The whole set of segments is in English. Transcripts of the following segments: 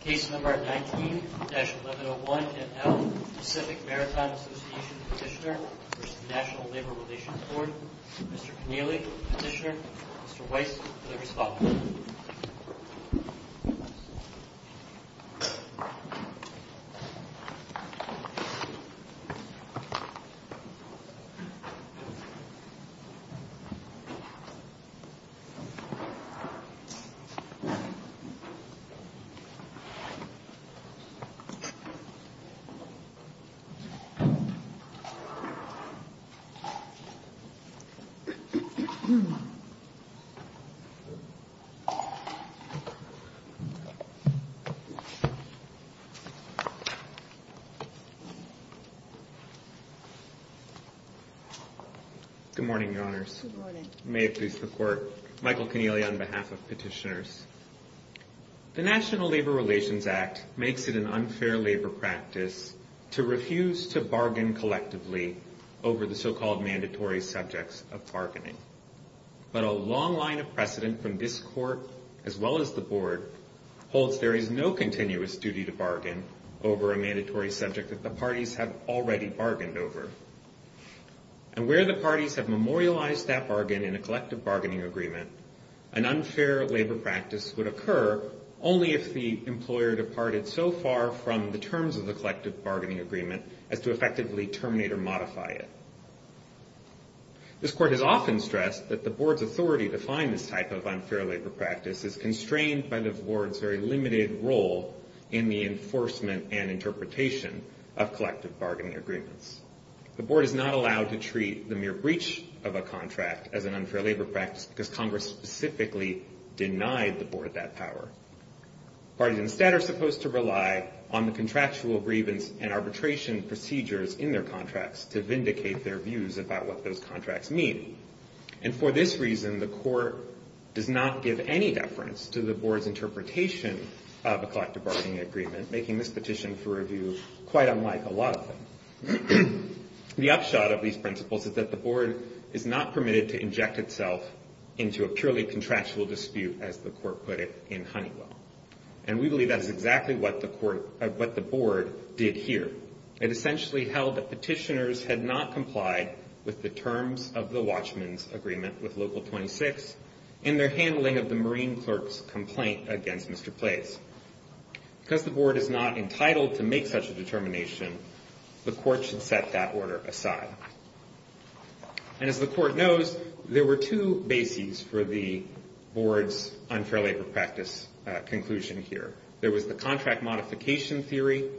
Case No. 19-1101ML Pacific Maritime Association Petitioner v. National Labor Relations Board Mr. Connealy, Petitioner Mr. Weiss, for the response Good morning, Your Honors. May it please the Court. Michael Connealy on behalf of Petitioners. The National Labor Relations Act makes it an unfair labor practice to refuse to bargain collectively over the so-called mandatory subjects of bargaining. But a long line of precedent from this Court, as well as the Board, holds there is no continuous duty to bargain over a mandatory subject that the parties have already bargained over. And where the parties have memorialized that bargain in a collective bargaining agreement, an unfair labor practice would occur only if the employer departed so far from the terms of the collective bargaining agreement as to effectively terminate or modify it. This Court has often stressed that the Board's authority to find this type of unfair labor practice is constrained by the Board's very limited role in the enforcement and interpretation of collective bargaining agreements. The Board is not allowed to treat the mere breach of a contract as an unfair labor practice because Congress specifically denied the Board that power. Parties instead are supposed to rely on the contractual grievance and arbitration procedures in their contracts to vindicate their views about what those contracts mean. And for this reason, the Court does not give any deference to the Board's interpretation of a collective bargaining agreement, making this petition for review quite unlike a lot of them. The upshot of these principles is that the Board is not permitted to inject itself into a purely contractual dispute, as the Court put it in Honeywell. And we believe that is exactly what the Board did here. It essentially held that petitioners had not complied with the terms of the Watchman's Agreement with Local 26 in their handling of the Marine clerk's complaint against Mr. Place. Because the Board is not entitled to make such a determination, the Court should set that order aside. And as the Court knows, there were two bases for the Board's unfair labor practice conclusion here. There was the contract modification theory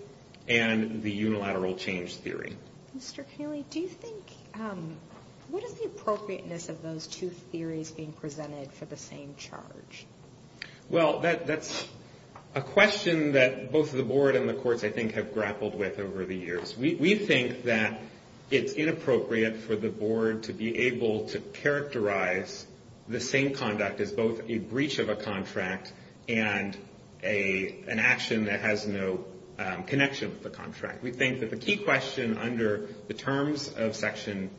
and the unilateral change theory. Mr. Kaley, what is the appropriateness of those two theories being presented for the same charge? Well, that's a question that both the Board and the Courts, I think, have grappled with over the years. We think that it's inappropriate for the Board to be able to characterize the same conduct as both a breach of a contract and an action that has no connection with the contract. We think that the key question under the terms of Section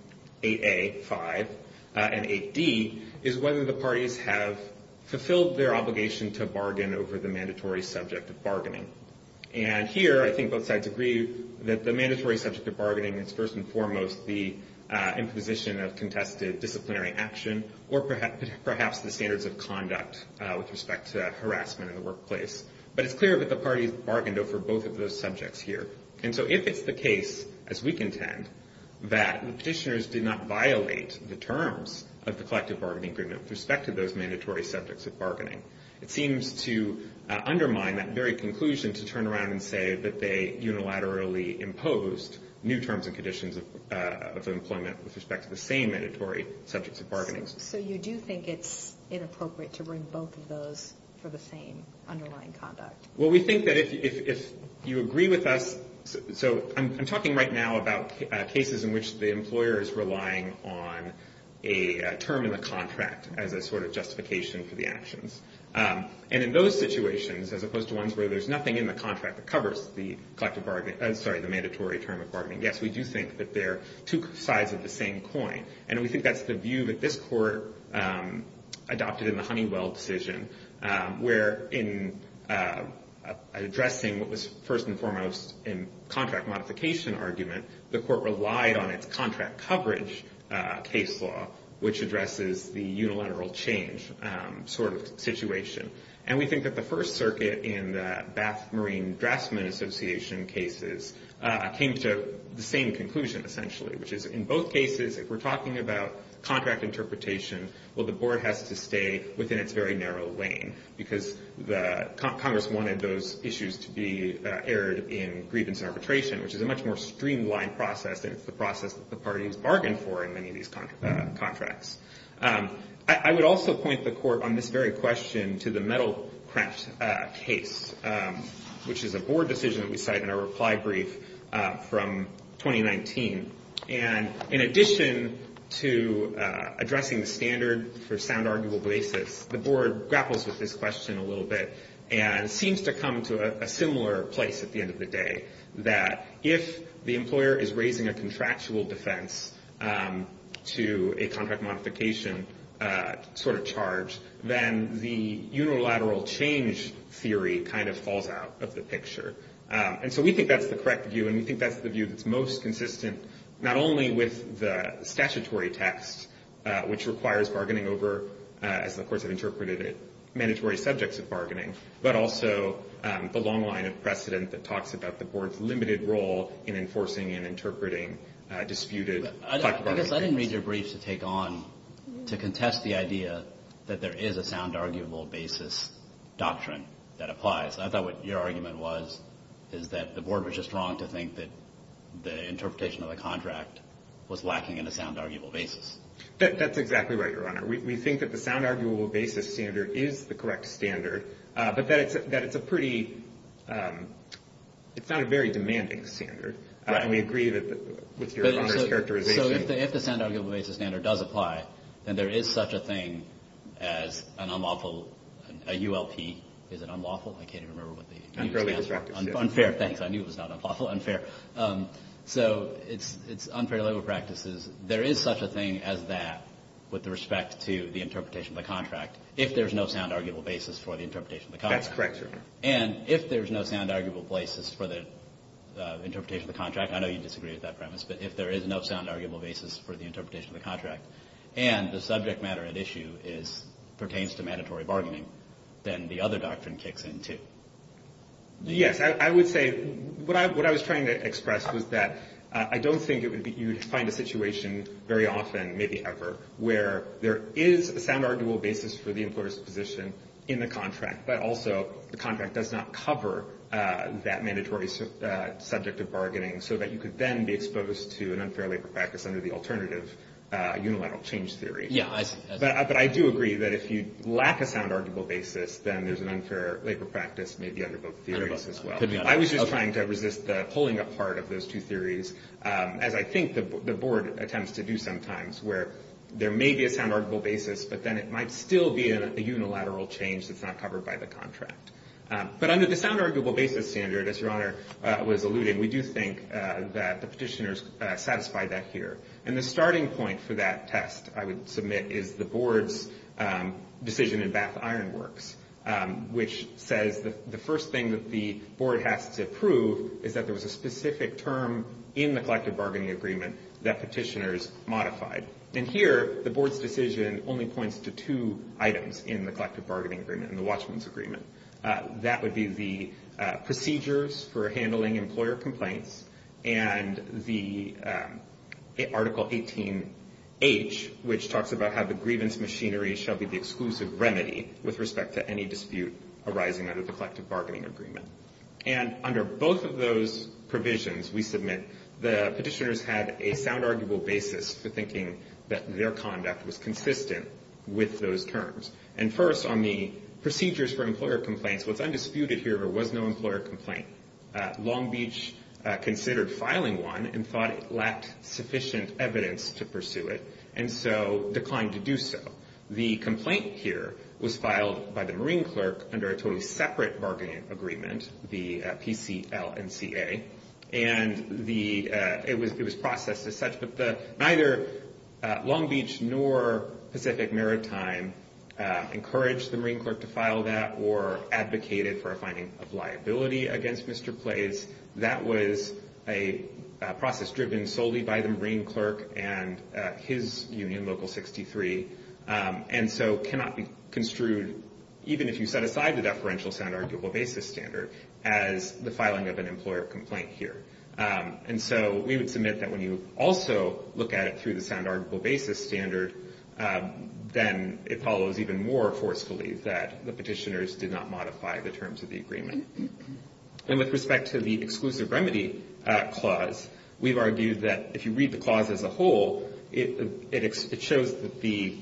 8A, 5, and 8D is whether the parties have fulfilled their obligation to bargain over the mandatory subject of bargaining. And here, I think both sides agree that the mandatory subject of bargaining is first and foremost the imposition of contested disciplinary action or perhaps the standards of conduct with respect to harassment in the workplace. But it's clear that the parties bargained over both of those subjects here. And so if it's the case, as we contend, that the Petitioners did not violate the terms of the collective bargaining agreement with respect to those mandatory subjects of bargaining, it seems to undermine that very conclusion to turn around and say that they unilaterally imposed new terms and conditions of employment with respect to the same mandatory subjects of bargaining. So you do think it's inappropriate to bring both of those for the same underlying conduct? Well, we think that if you agree with us. So I'm talking right now about cases in which the employer is relying on a term in the contract as a sort of justification for the actions. And in those situations, as opposed to ones where there's nothing in the contract that covers the mandatory term of bargaining, yes, we do think that they're two sides of the same coin. And we think that's the view that this court adopted in the Honeywell decision, where in addressing what was first and foremost in contract modification argument, the court relied on its contract coverage case law, which addresses the unilateral change sort of situation. And we think that the First Circuit in the Bath Marine Draftsmen Association cases came to the same conclusion, essentially, which is in both cases, if we're talking about contract interpretation, well, the board has to stay within its very narrow lane, because Congress wanted those issues to be aired in grievance arbitration, which is a much more streamlined process. And it's the process that the party has bargained for in many of these contracts. I would also point the court on this very question to the metal craft case, which is a board decision that we cite in our reply brief from 2019. And in addition to addressing the standard for sound arguable basis, the board grapples with this question a little bit and seems to come to a similar place at the end of the day, that if the employer is raising a contractual defense to a contract modification sort of charge, then the unilateral change theory kind of falls out of the picture. And so we think that's the correct view, and we think that's the view that's most consistent not only with the statutory text, which requires bargaining over, as the courts have interpreted it, mandatory subjects of bargaining, but also the long line of precedent that talks about the board's limited role in enforcing and interpreting disputed. I guess I didn't read your briefs to take on, to contest the idea that there is a sound arguable basis doctrine that applies. I thought what your argument was is that the board was just wrong to think that the interpretation of the contract was lacking in a sound arguable basis. That's exactly right, Your Honor. We think that the sound arguable basis standard is the correct standard, but that it's a pretty – it's not a very demanding standard. And we agree with Your Honor's characterization. So if the sound arguable basis standard does apply, then there is such a thing as an unlawful – a ULP. Is it unlawful? I can't even remember what the U stands for. Unfairly constructed. Unfair. Thanks. I knew it was not unlawful. Unfair. So it's unfair labor practices. There is such a thing as that with respect to the interpretation of the contract if there's no sound arguable basis for the interpretation of the contract. That's correct, Your Honor. And if there's no sound arguable basis for the interpretation of the contract – I know you disagree with that premise – but if there is no sound arguable basis for the interpretation of the contract and the subject matter at issue pertains to mandatory bargaining, then the other doctrine kicks in, too. Yes. I would say – what I was trying to express was that I don't think you would find a situation very often, maybe ever, where there is a sound arguable basis for the employer's position in the contract, but also the contract does not cover that mandatory subject of bargaining so that you could then be exposed to an unfair labor practice under the alternative unilateral change theory. Yeah. But I do agree that if you lack a sound arguable basis, then there's an unfair labor practice maybe under both theories as well. I was just trying to resist the pulling apart of those two theories, as I think the Board attempts to do sometimes where there may be a sound arguable basis, but then it might still be a unilateral change that's not covered by the contract. But under the sound arguable basis standard, as Your Honor was alluding, we do think that the petitioners satisfied that here. And the starting point for that test, I would submit, is the Board's decision in Bath-Ironworks, which says the first thing that the Board has to prove is that there was a specific term in the collective bargaining agreement that petitioners modified. And here, the Board's decision only points to two items in the collective bargaining agreement and the Watchman's agreement. That would be the procedures for handling employer complaints and the Article 18H, which talks about how the grievance machinery shall be the exclusive remedy with respect to any dispute arising under the collective bargaining agreement. And under both of those provisions, we submit, the petitioners had a sound arguable basis for thinking that their conduct was consistent with those terms. And first, on the procedures for employer complaints, what's undisputed here was no employer complaint. Long Beach considered filing one and thought it lacked sufficient evidence to pursue it, and so declined to do so. The complaint here was filed by the Marine Clerk under a totally separate bargaining agreement, the PCLNCA, and it was processed as such, but neither Long Beach nor Pacific Maritime encouraged the Marine Clerk to file that or advocated for a finding of liability against Mr. Plays. That was a process driven solely by the Marine Clerk and his union, Local 63, and so cannot be construed, even if you set aside the deferential sound arguable basis standard, as the filing of an employer complaint here. And so we would submit that when you also look at it through the sound arguable basis standard, then it follows even more forcefully that the petitioners did not modify the terms of the agreement. And with respect to the exclusive remedy clause, we've argued that if you read the clause as a whole, it shows that the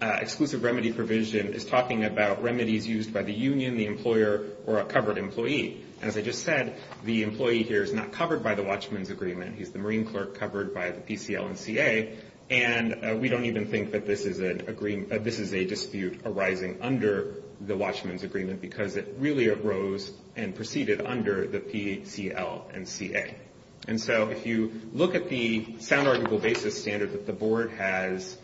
exclusive remedy provision is talking about remedies used by the union, the employer, or a covered employee. As I just said, the employee here is not covered by the Watchman's Agreement. He's the Marine Clerk covered by the PCLNCA, and we don't even think that this is a dispute arising under the Watchman's Agreement because it really arose and proceeded under the PCLNCA. And so if you look at the sound arguable basis standard that the Board has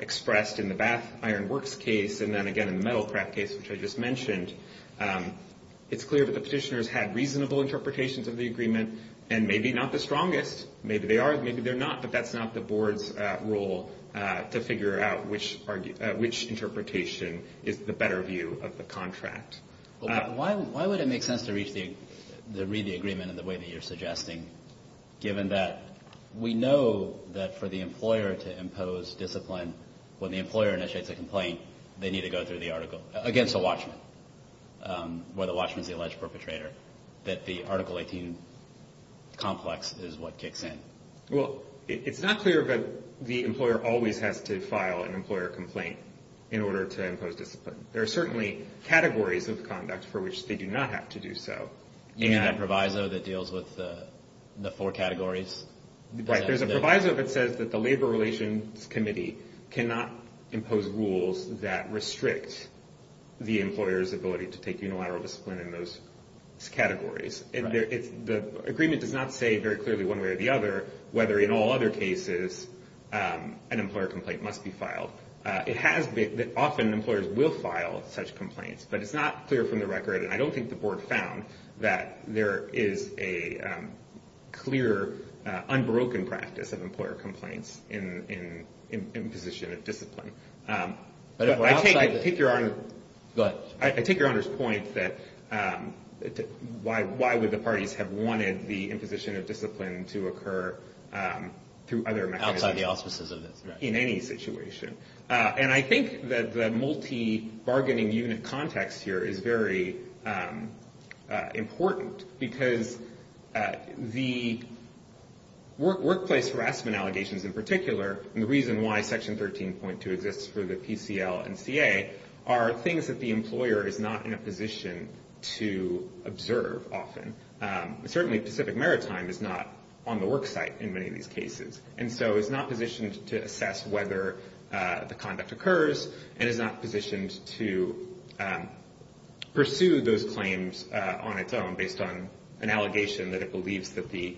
expressed in the Bath Iron Works case, and then again in the metal craft case, which I just mentioned, it's clear that the petitioners had reasonable interpretations of the agreement and maybe not the strongest. Maybe they are, maybe they're not, but that's not the Board's role to figure out which interpretation is the better view of the contract. Why would it make sense to read the agreement in the way that you're suggesting, given that we know that for the employer to impose discipline when the employer initiates a complaint, they need to go through the article against the Watchman, where the Watchman is the alleged perpetrator, that the Article 18 complex is what kicks in? Well, it's not clear that the employer always has to file an employer complaint in order to impose discipline. There are certainly categories of conduct for which they do not have to do so. Isn't there a proviso that deals with the four categories? Right, there's a proviso that says that the Labor Relations Committee cannot impose rules that restrict the employer's ability to take unilateral discipline in those categories. The agreement does not say very clearly one way or the other whether in all other cases an employer complaint must be filed. Often employers will file such complaints, but it's not clear from the record, and I don't think the Board found that there is a clear, unbroken practice of employer complaints in imposition of discipline. I take your Honor's point that why would the parties have wanted the imposition of discipline to occur through other mechanisms? Outside the auspices of this, right. In any situation. And I think that the multi-bargaining unit context here is very important, because the workplace harassment allegations in particular, and the reason why Section 13.2 exists for the PCL and CA, are things that the employer is not in a position to observe often. Certainly Pacific Maritime is not on the worksite in many of these cases, and so is not positioned to assess whether the conduct occurs, and is not positioned to pursue those claims on its own based on an allegation that it believes that the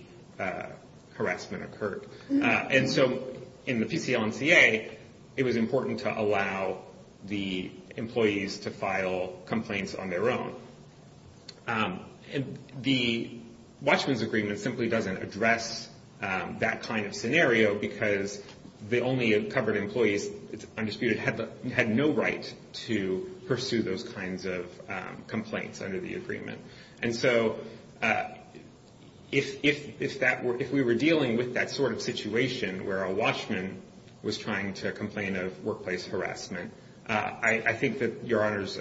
harassment occurred. And so in the PCL and CA, it was important to allow the employees to file complaints on their own. The Watchman's Agreement simply doesn't address that kind of scenario, because the only covered employees undisputed had no right to pursue those kinds of complaints under the agreement. And so if we were dealing with that sort of situation, where a watchman was trying to complain of workplace harassment, I think that Your Honor's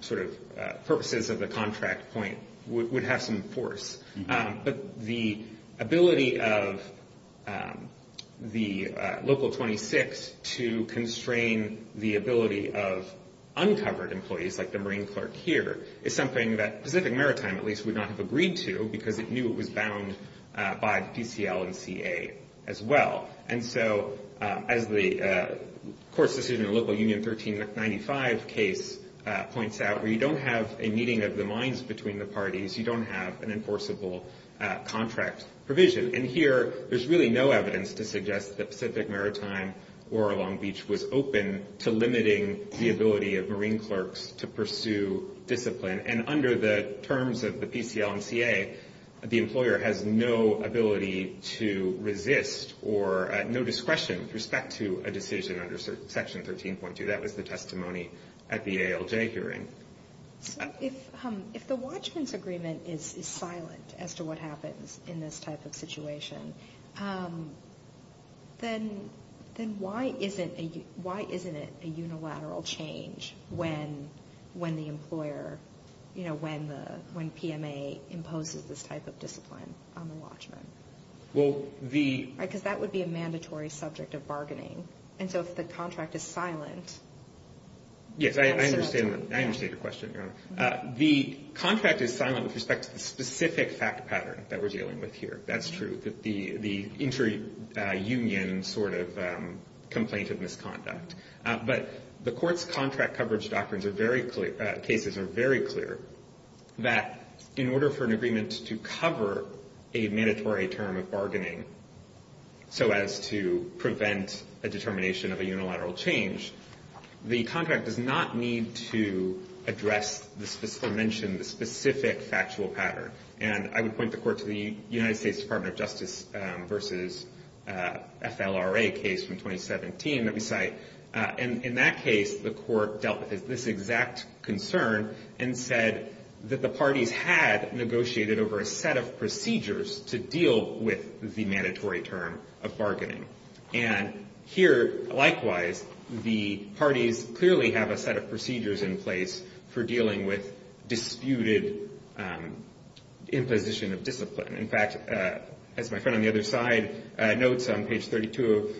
sort of purposes of the contract point would have some force. But the ability of the Local 26 to constrain the ability of uncovered employees, like the Marine clerk here, is something that Pacific Maritime at least would not have agreed to, because it knew it was bound by the PCL and CA as well. And so as the court's decision in the Local Union 1395 case points out, where you don't have a meeting of the minds between the parties, you don't have an enforceable contract provision. And here, there's really no evidence to suggest that Pacific Maritime or Long Beach was open to limiting the ability of Marine clerks to pursue discipline. And under the terms of the PCL and CA, the employer has no ability to resist or no discretion with respect to a decision under Section 13.2. That was the testimony at the ALJ hearing. If the watchman's agreement is silent as to what happens in this type of situation, then why isn't it a unilateral change when the employer, when PMA imposes this type of discipline on the watchman? Because that would be a mandatory subject of bargaining. And so if the contract is silent? Yes, I understand. I understand your question, Your Honor. The contract is silent with respect to the specific fact pattern that we're dealing with here. That's true, the inter-union sort of complaint of misconduct. But the Court's contract coverage doctrines are very clear, cases are very clear, that in order for an agreement to cover a mandatory term of bargaining so as to prevent a determination of a unilateral change, the contract does not need to address or mention the specific factual pattern. And I would point the Court to the United States Department of Justice versus FLRA case from 2017 that we cite. And in that case, the Court dealt with this exact concern and said that the parties had negotiated over a set of procedures to deal with the mandatory term of bargaining. And here, likewise, the parties clearly have a set of procedures in place for dealing with disputed imposition of discipline. In fact, as my friend on the other side notes on page 32 of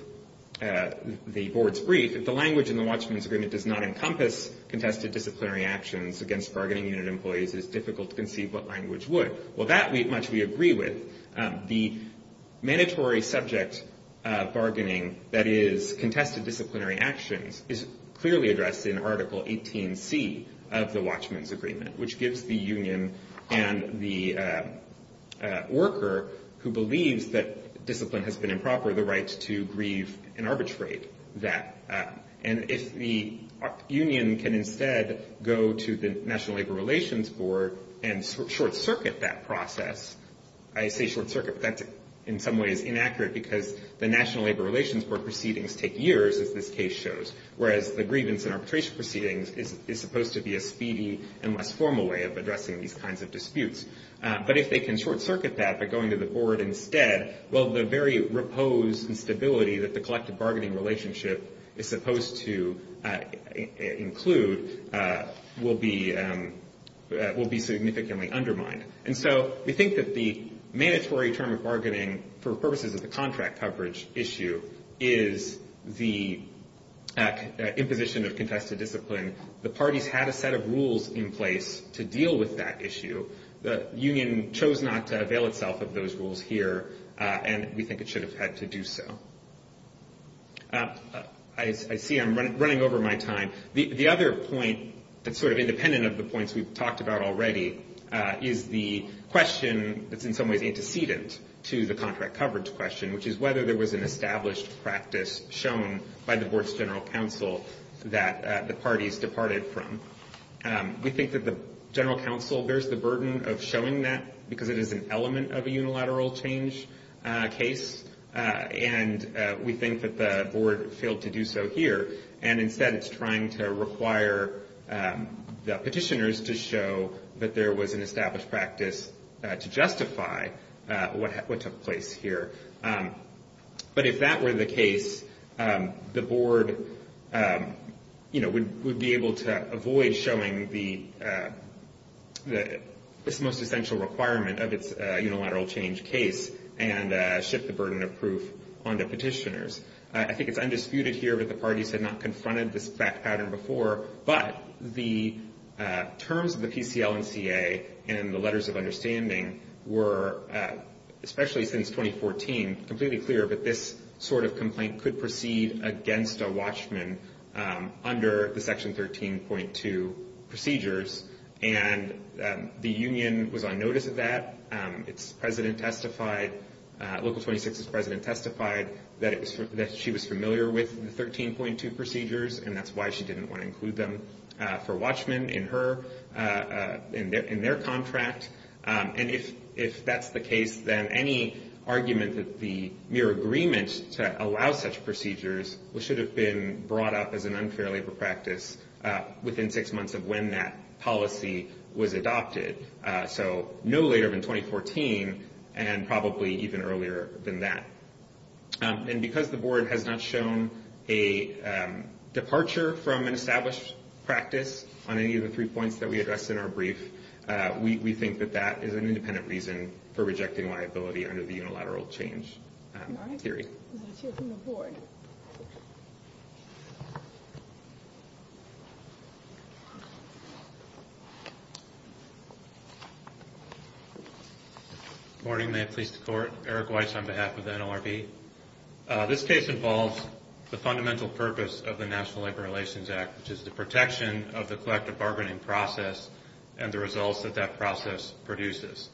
the Board's brief, if the language in the watchman's agreement does not encompass contested disciplinary actions against bargaining unit employees, it is difficult to conceive what language would. Well, that much we agree with. The mandatory subject bargaining that is contested disciplinary actions is clearly addressed in Article 18C of the watchman's agreement, which gives the union and the worker who believes that discipline has been improper the right to grieve and arbitrate that. And if the union can instead go to the National Labor Relations Board and short-circuit that process, I say short-circuit but that's in some ways inaccurate because the National Labor Relations Board proceedings take years, as this case shows, whereas the grievance and arbitration proceedings is supposed to be a speedy and less formal way of addressing these kinds of disputes. But if they can short-circuit that by going to the Board instead, well, the very repose and stability that the collective bargaining relationship is supposed to include will be significantly undermined. And so we think that the mandatory term of bargaining for purposes of the contract coverage issue is the imposition of contested discipline. The parties had a set of rules in place to deal with that issue. The union chose not to avail itself of those rules here, and we think it should have had to do so. I see I'm running over my time. The other point that's sort of independent of the points we've talked about already is the question that's in some ways antecedent to the contract coverage question, which is whether there was an established practice shown by the Board's general counsel that the parties departed from. We think that the general counsel bears the burden of showing that because it is an element of a unilateral change case, and we think that the Board failed to do so here. And instead, it's trying to require the petitioners to show that there was an established practice to justify what took place here. But if that were the case, the Board would be able to avoid showing this most essential requirement of its unilateral change case and shift the burden of proof onto petitioners. I think it's undisputed here that the parties had not confronted this pattern before, but the terms of the PCL&CA and the letters of understanding were, especially since 2014, completely clear that this sort of complaint could proceed against a watchman under the Section 13.2 procedures, and the union was on notice of that. Its president testified, Local 26's president testified, that she was familiar with the 13.2 procedures, and that's why she didn't want to include them for watchmen in their contract. And if that's the case, then any argument that the mere agreement to allow such procedures should have been brought up as an unfair labor practice within six months of when that policy was adopted, so no later than 2014 and probably even earlier than that. And because the Board has not shown a departure from an established practice on any of the three points that we addressed in our brief, we think that that is an independent reason for rejecting liability under the unilateral change theory. Let's hear from the Board. Good morning. May it please the Court. Eric Weiss on behalf of the NLRB. This case involves the fundamental purpose of the National Labor Relations Act, which is the protection of the collective bargaining process and the results that that process produces.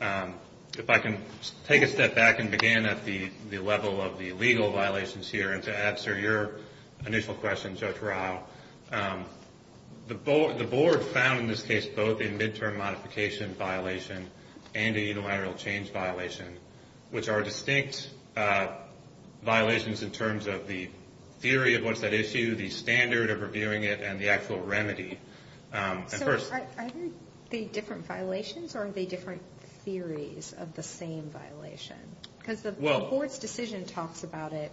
If I can take a step back and begin at the level of the legal violations here and to answer your initial question, Judge Rao, the Board found in this case both a midterm modification violation and a unilateral change violation, which are distinct violations in terms of the theory of what's at issue, the standard of reviewing it, and the actual remedy. So are they different violations or are they different theories of the same violation? Because the Board's decision talks about it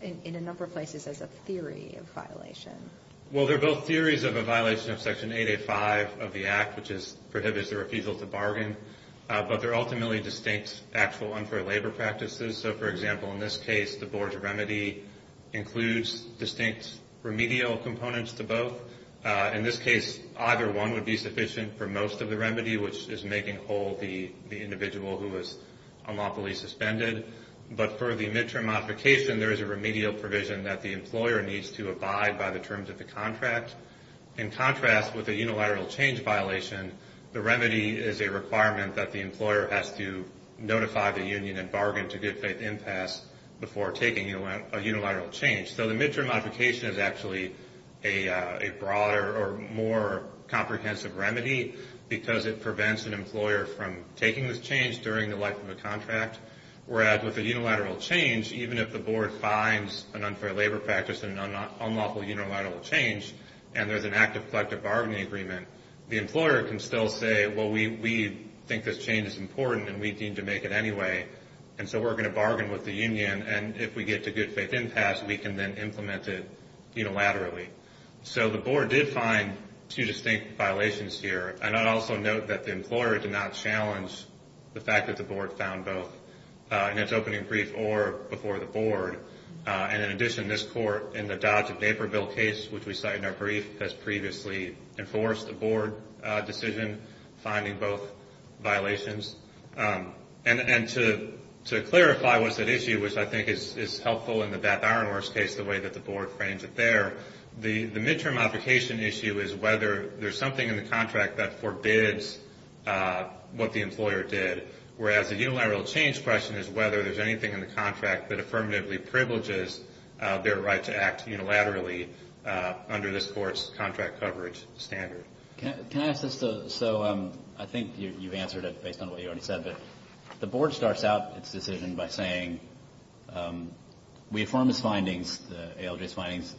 in a number of places as a theory of violation. Well, they're both theories of a violation of Section 885 of the Act, which prohibits the refusal to bargain, but they're ultimately distinct actual unfair labor practices. So, for example, in this case, the Board's remedy includes distinct remedial components to both, in this case, either one would be sufficient for most of the remedy, which is making whole the individual who is unlawfully suspended. But for the midterm modification, there is a remedial provision that the employer needs to abide by the terms of the contract. In contrast, with a unilateral change violation, the remedy is a requirement that the employer has to notify the union and bargain to give faith impasse before taking a unilateral change. So the midterm modification is actually a broader or more comprehensive remedy because it prevents an employer from taking this change during the life of the contract, whereas with a unilateral change, even if the Board finds an unfair labor practice and an unlawful unilateral change and there's an active collective bargaining agreement, the employer can still say, well, we think this change is important and we deem to make it anyway, and so we're going to bargain with the union, and if we get to good faith impasse, we can then implement it unilaterally. So the Board did find two distinct violations here, and I'd also note that the employer did not challenge the fact that the Board found both in its opening brief or before the Board. And in addition, this Court, in the Dodge v. Naperville case, which we cite in our brief, has previously enforced a Board decision finding both violations. And to clarify what's at issue, which I think is helpful in the Beth Arnor's case, the way that the Board frames it there, the midterm modification issue is whether there's something in the contract that forbids what the employer did, whereas the unilateral change question is whether there's anything in the contract that affirmatively privileges their right to act unilaterally under this Court's contract coverage standard. Can I ask this? So I think you've answered it based on what you already said, but the Board starts out its decision by saying we affirm its findings, the ALJ's findings,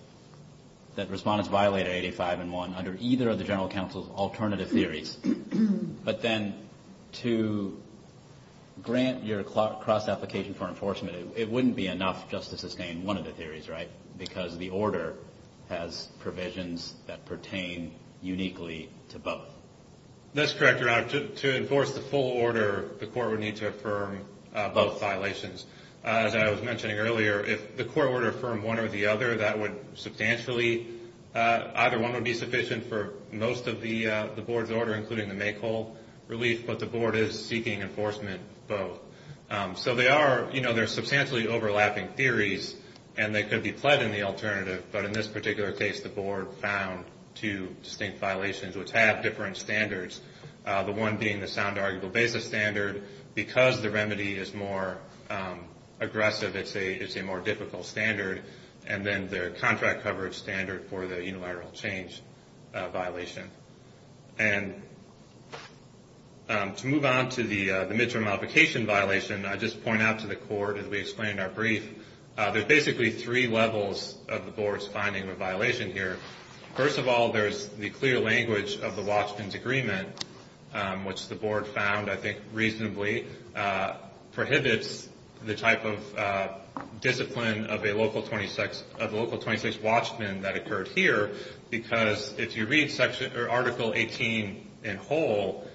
that respondents violated 85 and 1 under either of the general counsel's alternative theories. But then to grant your cross-application for enforcement, it wouldn't be enough just to sustain one of the theories, right, because the order has provisions that pertain uniquely to both. That's correct, Your Honor. To enforce the full order, the Court would need to affirm both violations. As I was mentioning earlier, if the Court were to affirm one or the other, that would substantially, either one would be sufficient for most of the Board's order, including the make-all relief, but the Board is seeking enforcement of both. So they are substantially overlapping theories, and they could be pled in the alternative, but in this particular case, the Board found two distinct violations which have different standards, the one being the sound arguable basis standard. Because the remedy is more aggressive, it's a more difficult standard, and then their contract coverage standard for the unilateral change violation. And to move on to the midterm modification violation, I just point out to the Court, as we explained in our brief, there are basically three levels of the Board's finding of a violation here. First of all, there's the clear language of the Watchman's Agreement, which the Board found, I think, reasonably prohibits the type of discipline of a local 26 Watchman that occurred here, because if you read Article 18 in whole,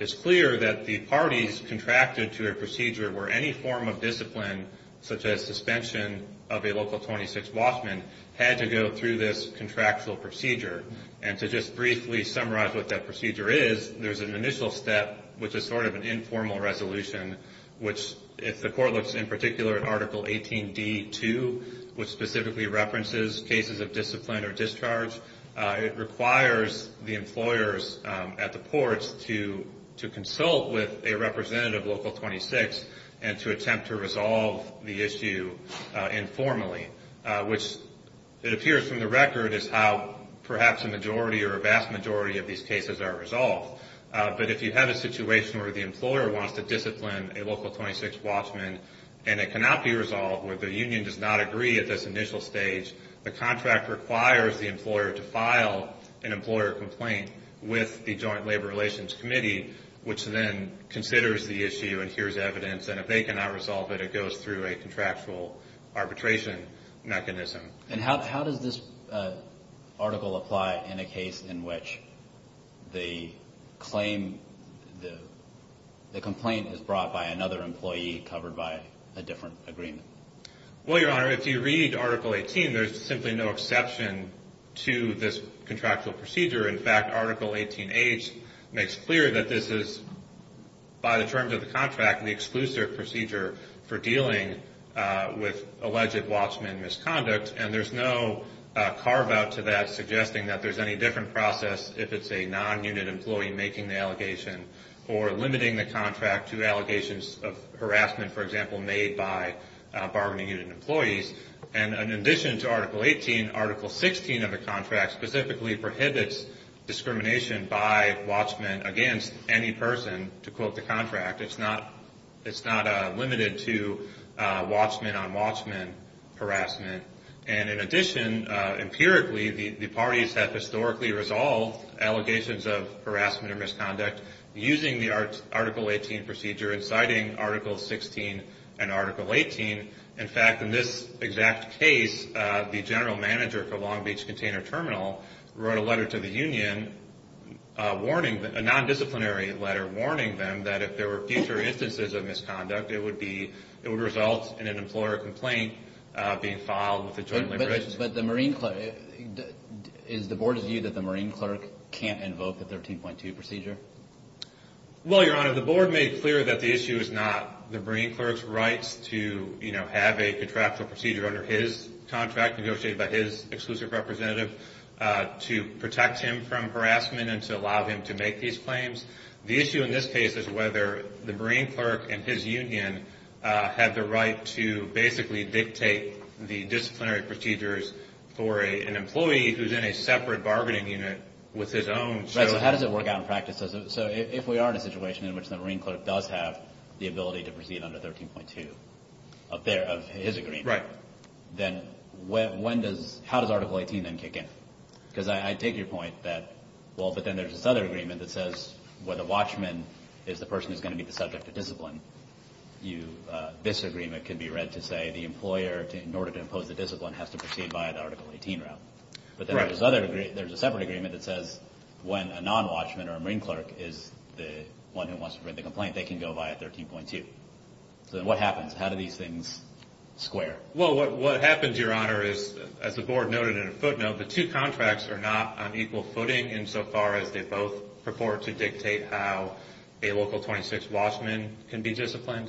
it's clear that the parties contracted to a procedure where any form of discipline, such as suspension of a local 26 Watchman, had to go through this contractual procedure. And to just briefly summarize what that procedure is, there's an initial step, which is sort of an informal resolution, which if the Court looks in particular at Article 18d.2, which specifically references cases of discipline or discharge, it requires the employers at the ports to consult with a representative local 26 and to attempt to resolve the issue informally, which it appears from the record is how perhaps a majority or a vast majority of these cases are resolved. But if you have a situation where the employer wants to discipline a local 26 Watchman and it cannot be resolved or the union does not agree at this initial stage, the contract requires the employer to file an employer complaint with the Joint Labor Relations Committee, which then considers the issue and hears evidence. And if they cannot resolve it, it goes through a contractual arbitration mechanism. And how does this article apply in a case in which the complaint is brought by another employee covered by a different agreement? Well, Your Honor, if you read Article 18, there's simply no exception to this contractual procedure. In fact, Article 18h makes clear that this is, by the terms of the contract, the exclusive procedure for dealing with alleged Watchman misconduct. And there's no carve-out to that suggesting that there's any different process if it's a non-unit employee making the allegation or limiting the contract to allegations of harassment, for example, made by bargaining unit employees. And in addition to Article 18, Article 16 of the contract specifically prohibits discrimination by Watchmen against any person to quote the contract. It's not limited to Watchmen on Watchmen harassment. And in addition, empirically, the parties have historically resolved allegations of harassment or misconduct using the Article 18 procedure and citing Article 16 and Article 18. In fact, in this exact case, the general manager for Long Beach Container Terminal wrote a letter to the union warning them, a non-disciplinary letter warning them, that if there were future instances of misconduct, it would result in an employer complaint being filed with the Joint Liberation. But is the Board's view that the Marine clerk can't invoke the 13.2 procedure? Well, Your Honor, the Board made clear that the issue is not the Marine clerk's rights to, you know, have a contractual procedure under his contract negotiated by his exclusive representative to protect him from harassment and to allow him to make these claims. The issue in this case is whether the Marine clerk and his union have the right to basically dictate the disciplinary procedures for an employee who's in a separate bargaining unit with his own. Right. So how does it work out in practice? So if we are in a situation in which the Marine clerk does have the ability to proceed under 13.2 of his agreement, then how does Article 18 then kick in? Because I take your point that, well, but then there's this other agreement that says where the watchman is the person who's going to be the subject of discipline, this agreement can be read to say the employer, in order to impose the discipline, has to proceed by the Article 18 route. But then there's a separate agreement that says when a non-watchman or a Marine clerk is the one who wants to print the complaint, they can go by 13.2. So then what happens? How do these things square? Well, what happens, Your Honor, is as the board noted in a footnote, the two contracts are not on equal footing insofar as they both purport to dictate how a local 26 watchman can be disciplined.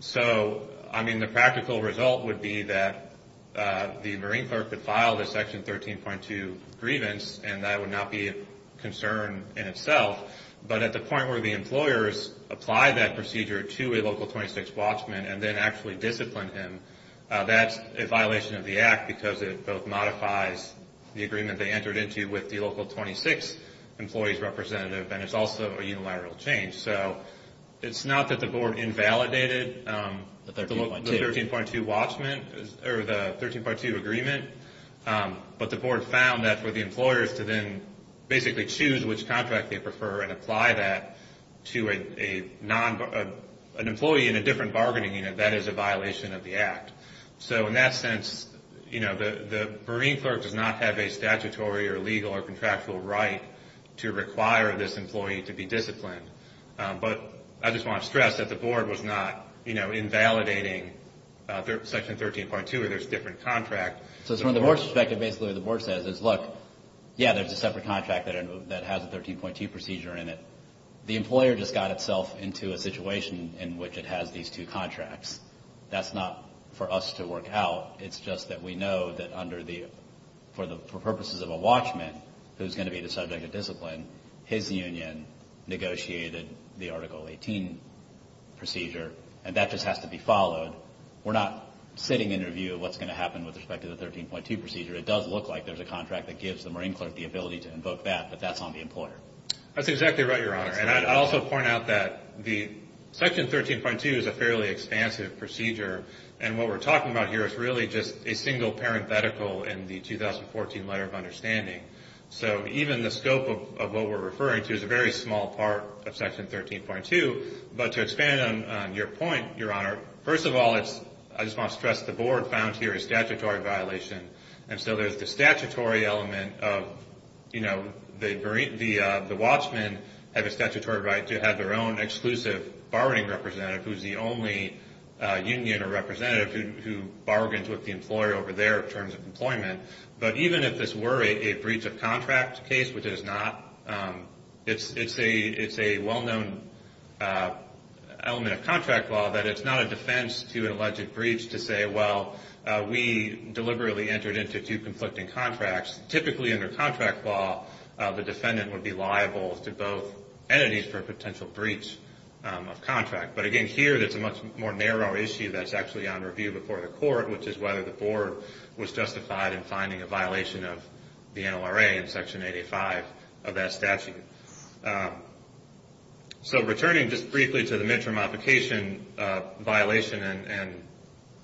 So, I mean, the practical result would be that the Marine clerk would file the Section 13.2 grievance, and that would not be a concern in itself. But at the point where the employers apply that procedure to a local 26 watchman and then actually discipline him, that's a violation of the Act because it both modifies the agreement they entered into with the local 26 employees representative, and it's also a unilateral change. So it's not that the board invalidated the 13.2 agreement, but the board found that for the employers to then basically choose which contract they prefer and apply that to an employee in a different bargaining unit, that is a violation of the Act. So in that sense, the Marine clerk does not have a statutory or legal or contractual right to require this employee to be disciplined. But I just want to stress that the board was not invalidating Section 13.2 where there's a different contract. So from the board's perspective, basically what the board says is, look, yeah, there's a separate contract that has a 13.2 procedure in it. The employer just got itself into a situation in which it has these two contracts. That's not for us to work out. It's just that we know that for purposes of a watchman who's going to be the subject of discipline, his union negotiated the Article 18 procedure, and that just has to be followed. We're not sitting in a view of what's going to happen with respect to the 13.2 procedure. It does look like there's a contract that gives the Marine clerk the ability to invoke that, but that's on the employer. That's exactly right, Your Honor. And I'd also point out that Section 13.2 is a fairly expansive procedure, and what we're talking about here is really just a single parenthetical in the 2014 Letter of Understanding. So even the scope of what we're referring to is a very small part of Section 13.2. But to expand on your point, Your Honor, first of all, I just want to stress the board found here a statutory violation. And so there's the statutory element of, you know, the watchmen have a statutory right to have their own exclusive bargaining representative who's the only union or representative who bargains with the employer over their terms of employment. But even if this were a breach of contract case, which it is not, it's a well-known element of contract law that it's not a defense to an alleged breach to say, well, we deliberately entered into two conflicting contracts. Typically under contract law, the defendant would be liable to both entities for a potential breach of contract. But, again, here there's a much more narrow issue that's actually on review before the court, which is whether the board was justified in finding a violation of the NLRA in Section 85 of that statute. So returning just briefly to the midterm application violation and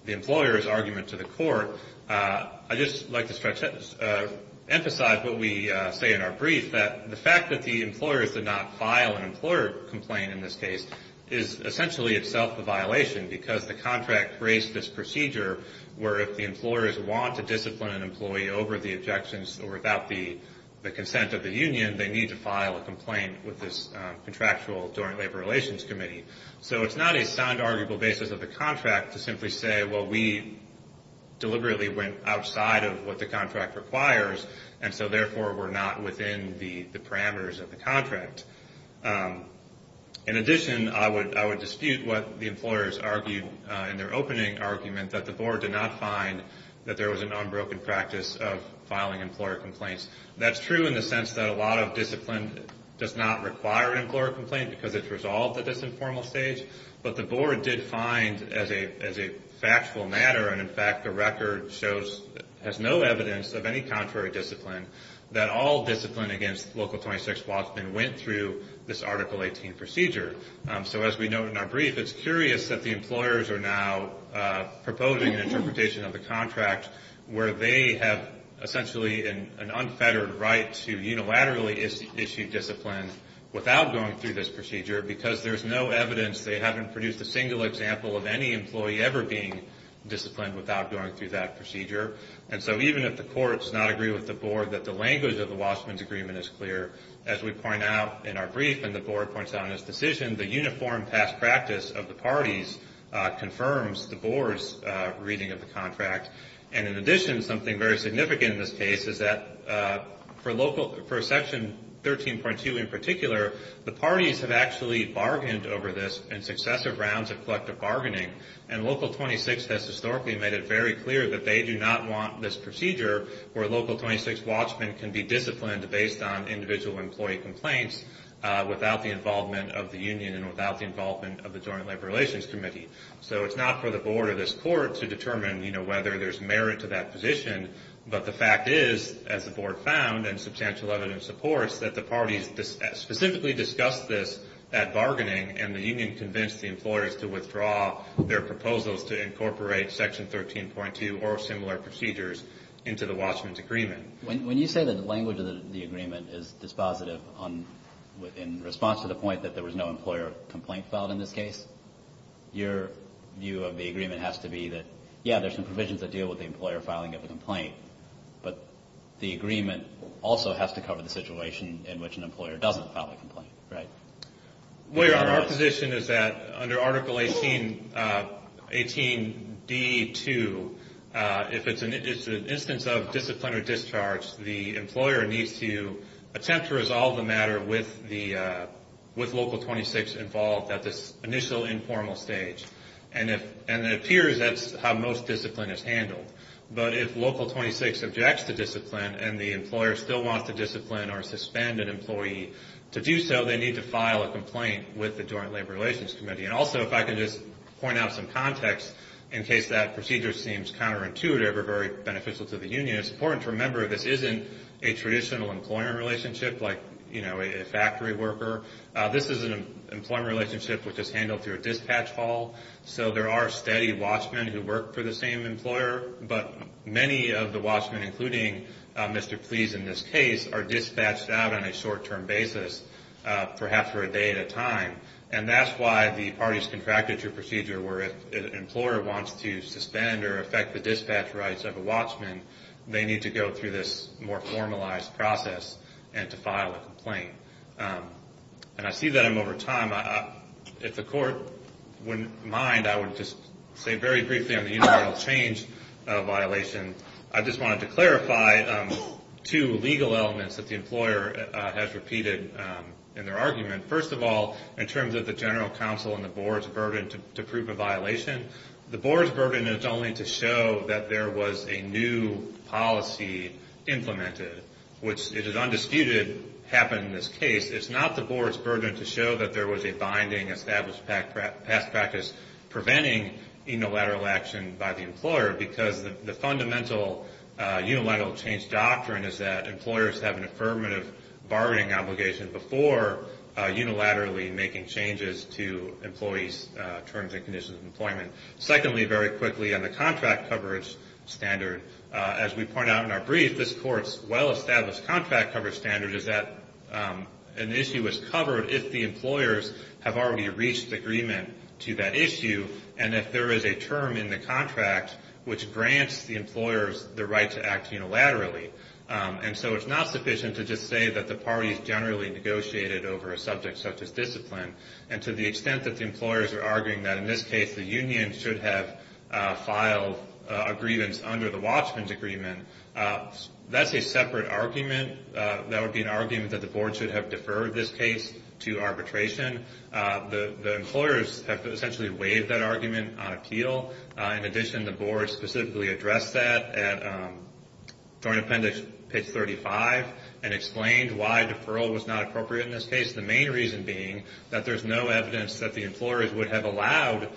the employer's argument to the court, I'd just like to emphasize what we say in our brief, that the fact that the employers did not file an employer complaint in this case is essentially itself a violation, because the contract creates this procedure where if the employers want to discipline an employee over the objections or without the consent of the union, they need to file a complaint with this contractual joint labor relations committee. So it's not a sound, arguable basis of the contract to simply say, well, we deliberately went outside of what the contract requires, and so therefore we're not within the parameters of the contract. In addition, I would dispute what the employers argued in their opening argument, that the board did not find that there was an unbroken practice of filing employer complaints. That's true in the sense that a lot of discipline does not require an employer complaint, because it's resolved at this informal stage. But the board did find, as a factual matter, and in fact the record shows, has no evidence of any contrary discipline, that all discipline against Local 26 Walkman went through this Article 18 procedure. So as we note in our brief, it's curious that the employers are now proposing an interpretation of the contract where they have essentially an unfettered right to unilaterally issue discipline without going through this procedure, because there's no evidence. They haven't produced a single example of any employee ever being disciplined without going through that procedure. And so even if the court does not agree with the board that the language of the Walshman's agreement is clear, as we point out in our brief and the board points out in its decision, the uniform past practice of the parties confirms the board's reading of the contract. And in addition, something very significant in this case is that for Section 13.2 in particular, the parties have actually bargained over this in successive rounds of collective bargaining, and Local 26 has historically made it very clear that they do not want this procedure where Local 26 Walshman can be disciplined based on individual employee complaints without the involvement of the union and without the involvement of the Joint Labor Relations Committee. So it's not for the board or this court to determine, you know, whether there's merit to that position, but the fact is, as the board found and substantial evidence supports, that the parties specifically discussed this at bargaining, and the union convinced the employers to withdraw their proposals to incorporate Section 13.2 or similar procedures into the Walshman's agreement. When you say that the language of the agreement is dispositive in response to the point that there was no employer complaint filed in this case, your view of the agreement has to be that, yeah, there's some provisions that deal with the employer filing of a complaint, but the agreement also has to cover the situation in which an employer doesn't file a complaint, right? Well, your honor, our position is that under Article 18.d.2, if it's an instance of discipline or discharge, the employer needs to attempt to resolve the matter with Local 26 involved at this initial informal stage. And it appears that's how most discipline is handled. But if Local 26 objects to discipline and the employer still wants to discipline or suspend an employee to do so, they need to file a complaint with the Joint Labor Relations Committee. And also, if I could just point out some context, in case that procedure seems counterintuitive or very beneficial to the union, it's important to remember this isn't a traditional employer relationship like, you know, a factory worker. This is an employer relationship which is handled through a dispatch hall. So there are steady Walshman who work for the same employer, but many of the Walshman, including Mr. Please in this case, are dispatched out on a short-term basis, perhaps for a day at a time. And that's why the parties contracted your procedure where if an employer wants to suspend or affect the dispatch rights of a Walshman, they need to go through this more formalized process and to file a complaint. And I see that I'm over time. If the court wouldn't mind, I would just say very briefly on the unilateral change violation. I just wanted to clarify two legal elements that the employer has repeated in their argument. First of all, in terms of the general counsel and the board's burden to prove a violation, the board's burden is only to show that there was a new policy implemented, which it is undisputed happened in this case. It's not the board's burden to show that there was a binding established past practice preventing unilateral action by the employer because the fundamental unilateral change doctrine is that employers have an affirmative bargaining obligation before unilaterally making changes to employees' terms and conditions of employment. Secondly, very quickly, on the contract coverage standard, as we point out in our brief, this court's well-established contract coverage standard is that an issue is covered if the employers have already reached agreement to that issue and if there is a term in the contract which grants the employers the right to act unilaterally. And so it's not sufficient to just say that the parties generally negotiated over a subject such as discipline. And to the extent that the employers are arguing that in this case the union should have filed a grievance under the Watchman's Agreement, that's a separate argument. That would be an argument that the board should have deferred this case to arbitration. The employers have essentially waived that argument on appeal. In addition, the board specifically addressed that at Joint Appendix page 35 and explained why deferral was not appropriate in this case, the main reason being that there's no evidence that the employers would have allowed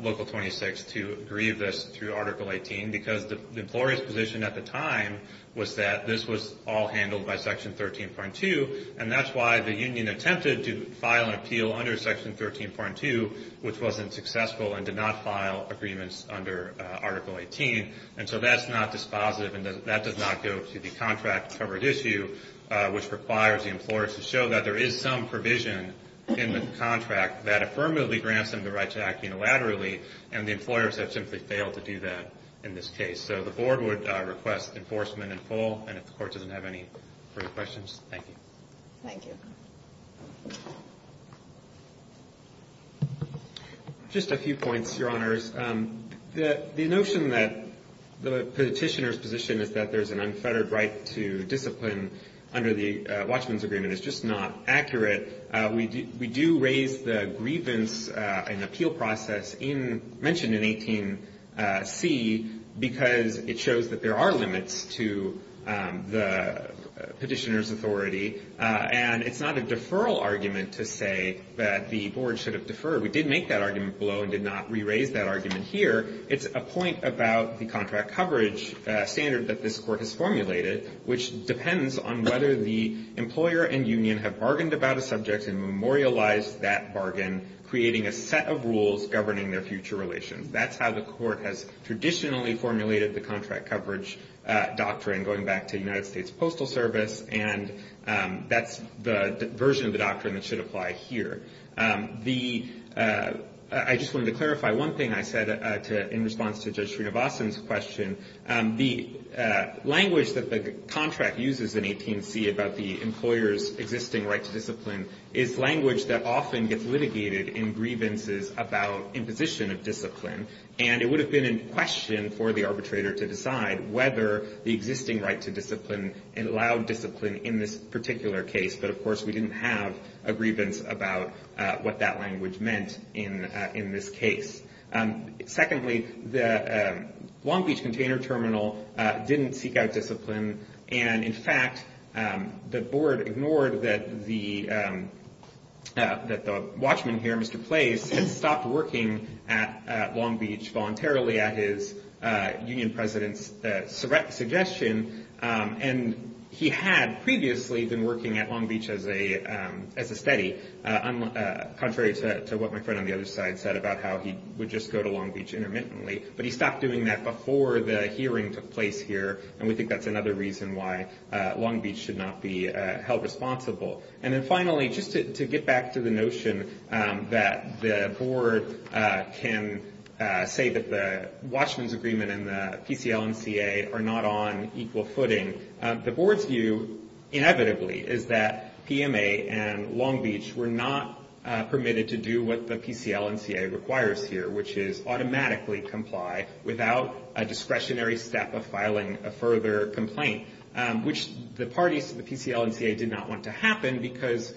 Local 26 to grieve this through Article 18 because the employer's position at the time was that this was all handled by Section 13.2 and that's why the union attempted to file an appeal under Section 13.2, which wasn't successful and did not file agreements under Article 18. And so that's not dispositive and that does not go to the contract covered issue, which requires the employers to show that there is some provision in the contract that affirmatively grants them the right to act unilaterally, and the employers have simply failed to do that in this case. So the board would request enforcement in full, and if the court doesn't have any further questions, thank you. Thank you. Just a few points, Your Honors. The notion that the petitioner's position is that there's an unfettered right to discipline under the Watchman's Agreement is just not accurate. We do raise the grievance and appeal process mentioned in 18C because it shows that there are limits to the petitioner's authority, and it's not a deferral argument to say that the board should have deferred. We did make that argument below and did not re-raise that argument here. It's a point about the contract coverage standard that this court has formulated, which depends on whether the employer and union have bargained about a subject and memorialized that bargain, creating a set of rules governing their future relations. That's how the court has traditionally formulated the contract coverage doctrine, going back to United States Postal Service, and that's the version of the doctrine that should apply here. I just wanted to clarify one thing I said in response to Judge Srinivasan's question. The language that the contract uses in 18C about the employer's existing right to discipline is language that often gets litigated in grievances about imposition of discipline, and it would have been in question for the arbitrator to decide whether the existing right to discipline allowed discipline in this particular case. But, of course, we didn't have a grievance about what that language meant in this case. Secondly, the Long Beach Container Terminal didn't seek out discipline, and, in fact, the board ignored that the watchman here, Mr. Place, had stopped working at Long Beach voluntarily at his union president's suggestion, and he had previously been working at Long Beach as a steady, contrary to what my friend on the other side said about how he would just go to Long Beach intermittently. But he stopped doing that before the hearing took place here, and we think that's another reason why Long Beach should not be held responsible. And then, finally, just to get back to the notion that the board can say that the watchman's agreement and the PCL&CA are not on equal footing, the board's view, inevitably, is that PMA and Long Beach were not permitted to do what the PCL&CA requires here, which is automatically comply without a discretionary step of filing a further complaint, which the parties to the PCL&CA did not want to happen because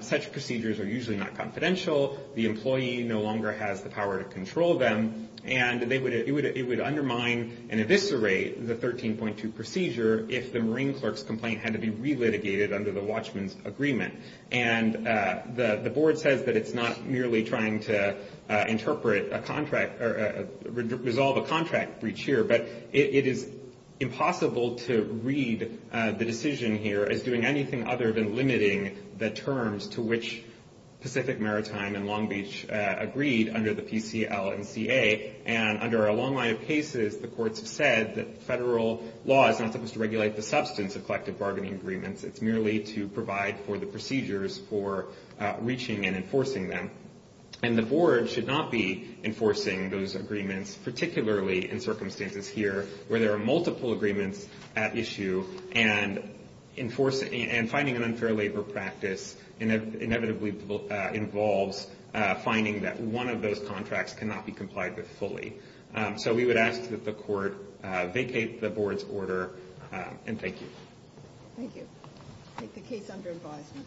such procedures are usually not confidential, the employee no longer has the power to control them, and it would undermine and eviscerate the 13.2 procedure if the marine clerk's complaint had to be relitigated under the watchman's agreement. And the board says that it's not merely trying to interpret a contract or resolve a contract breach here, but it is impossible to read the decision here as doing anything other than limiting the terms to which Pacific Maritime and Long Beach agreed under the PCL&CA, and under a long line of cases, the courts have said that federal law is not supposed to regulate the substance of collective bargaining agreements. It's merely to provide for the procedures for reaching and enforcing them. And the board should not be enforcing those agreements, particularly in circumstances here where there are multiple agreements at issue and finding an unfair labor practice inevitably involves finding that one of those contracts cannot be complied with fully. So we would ask that the court vacate the board's order, and thank you. Thank you. I take the case under advisement.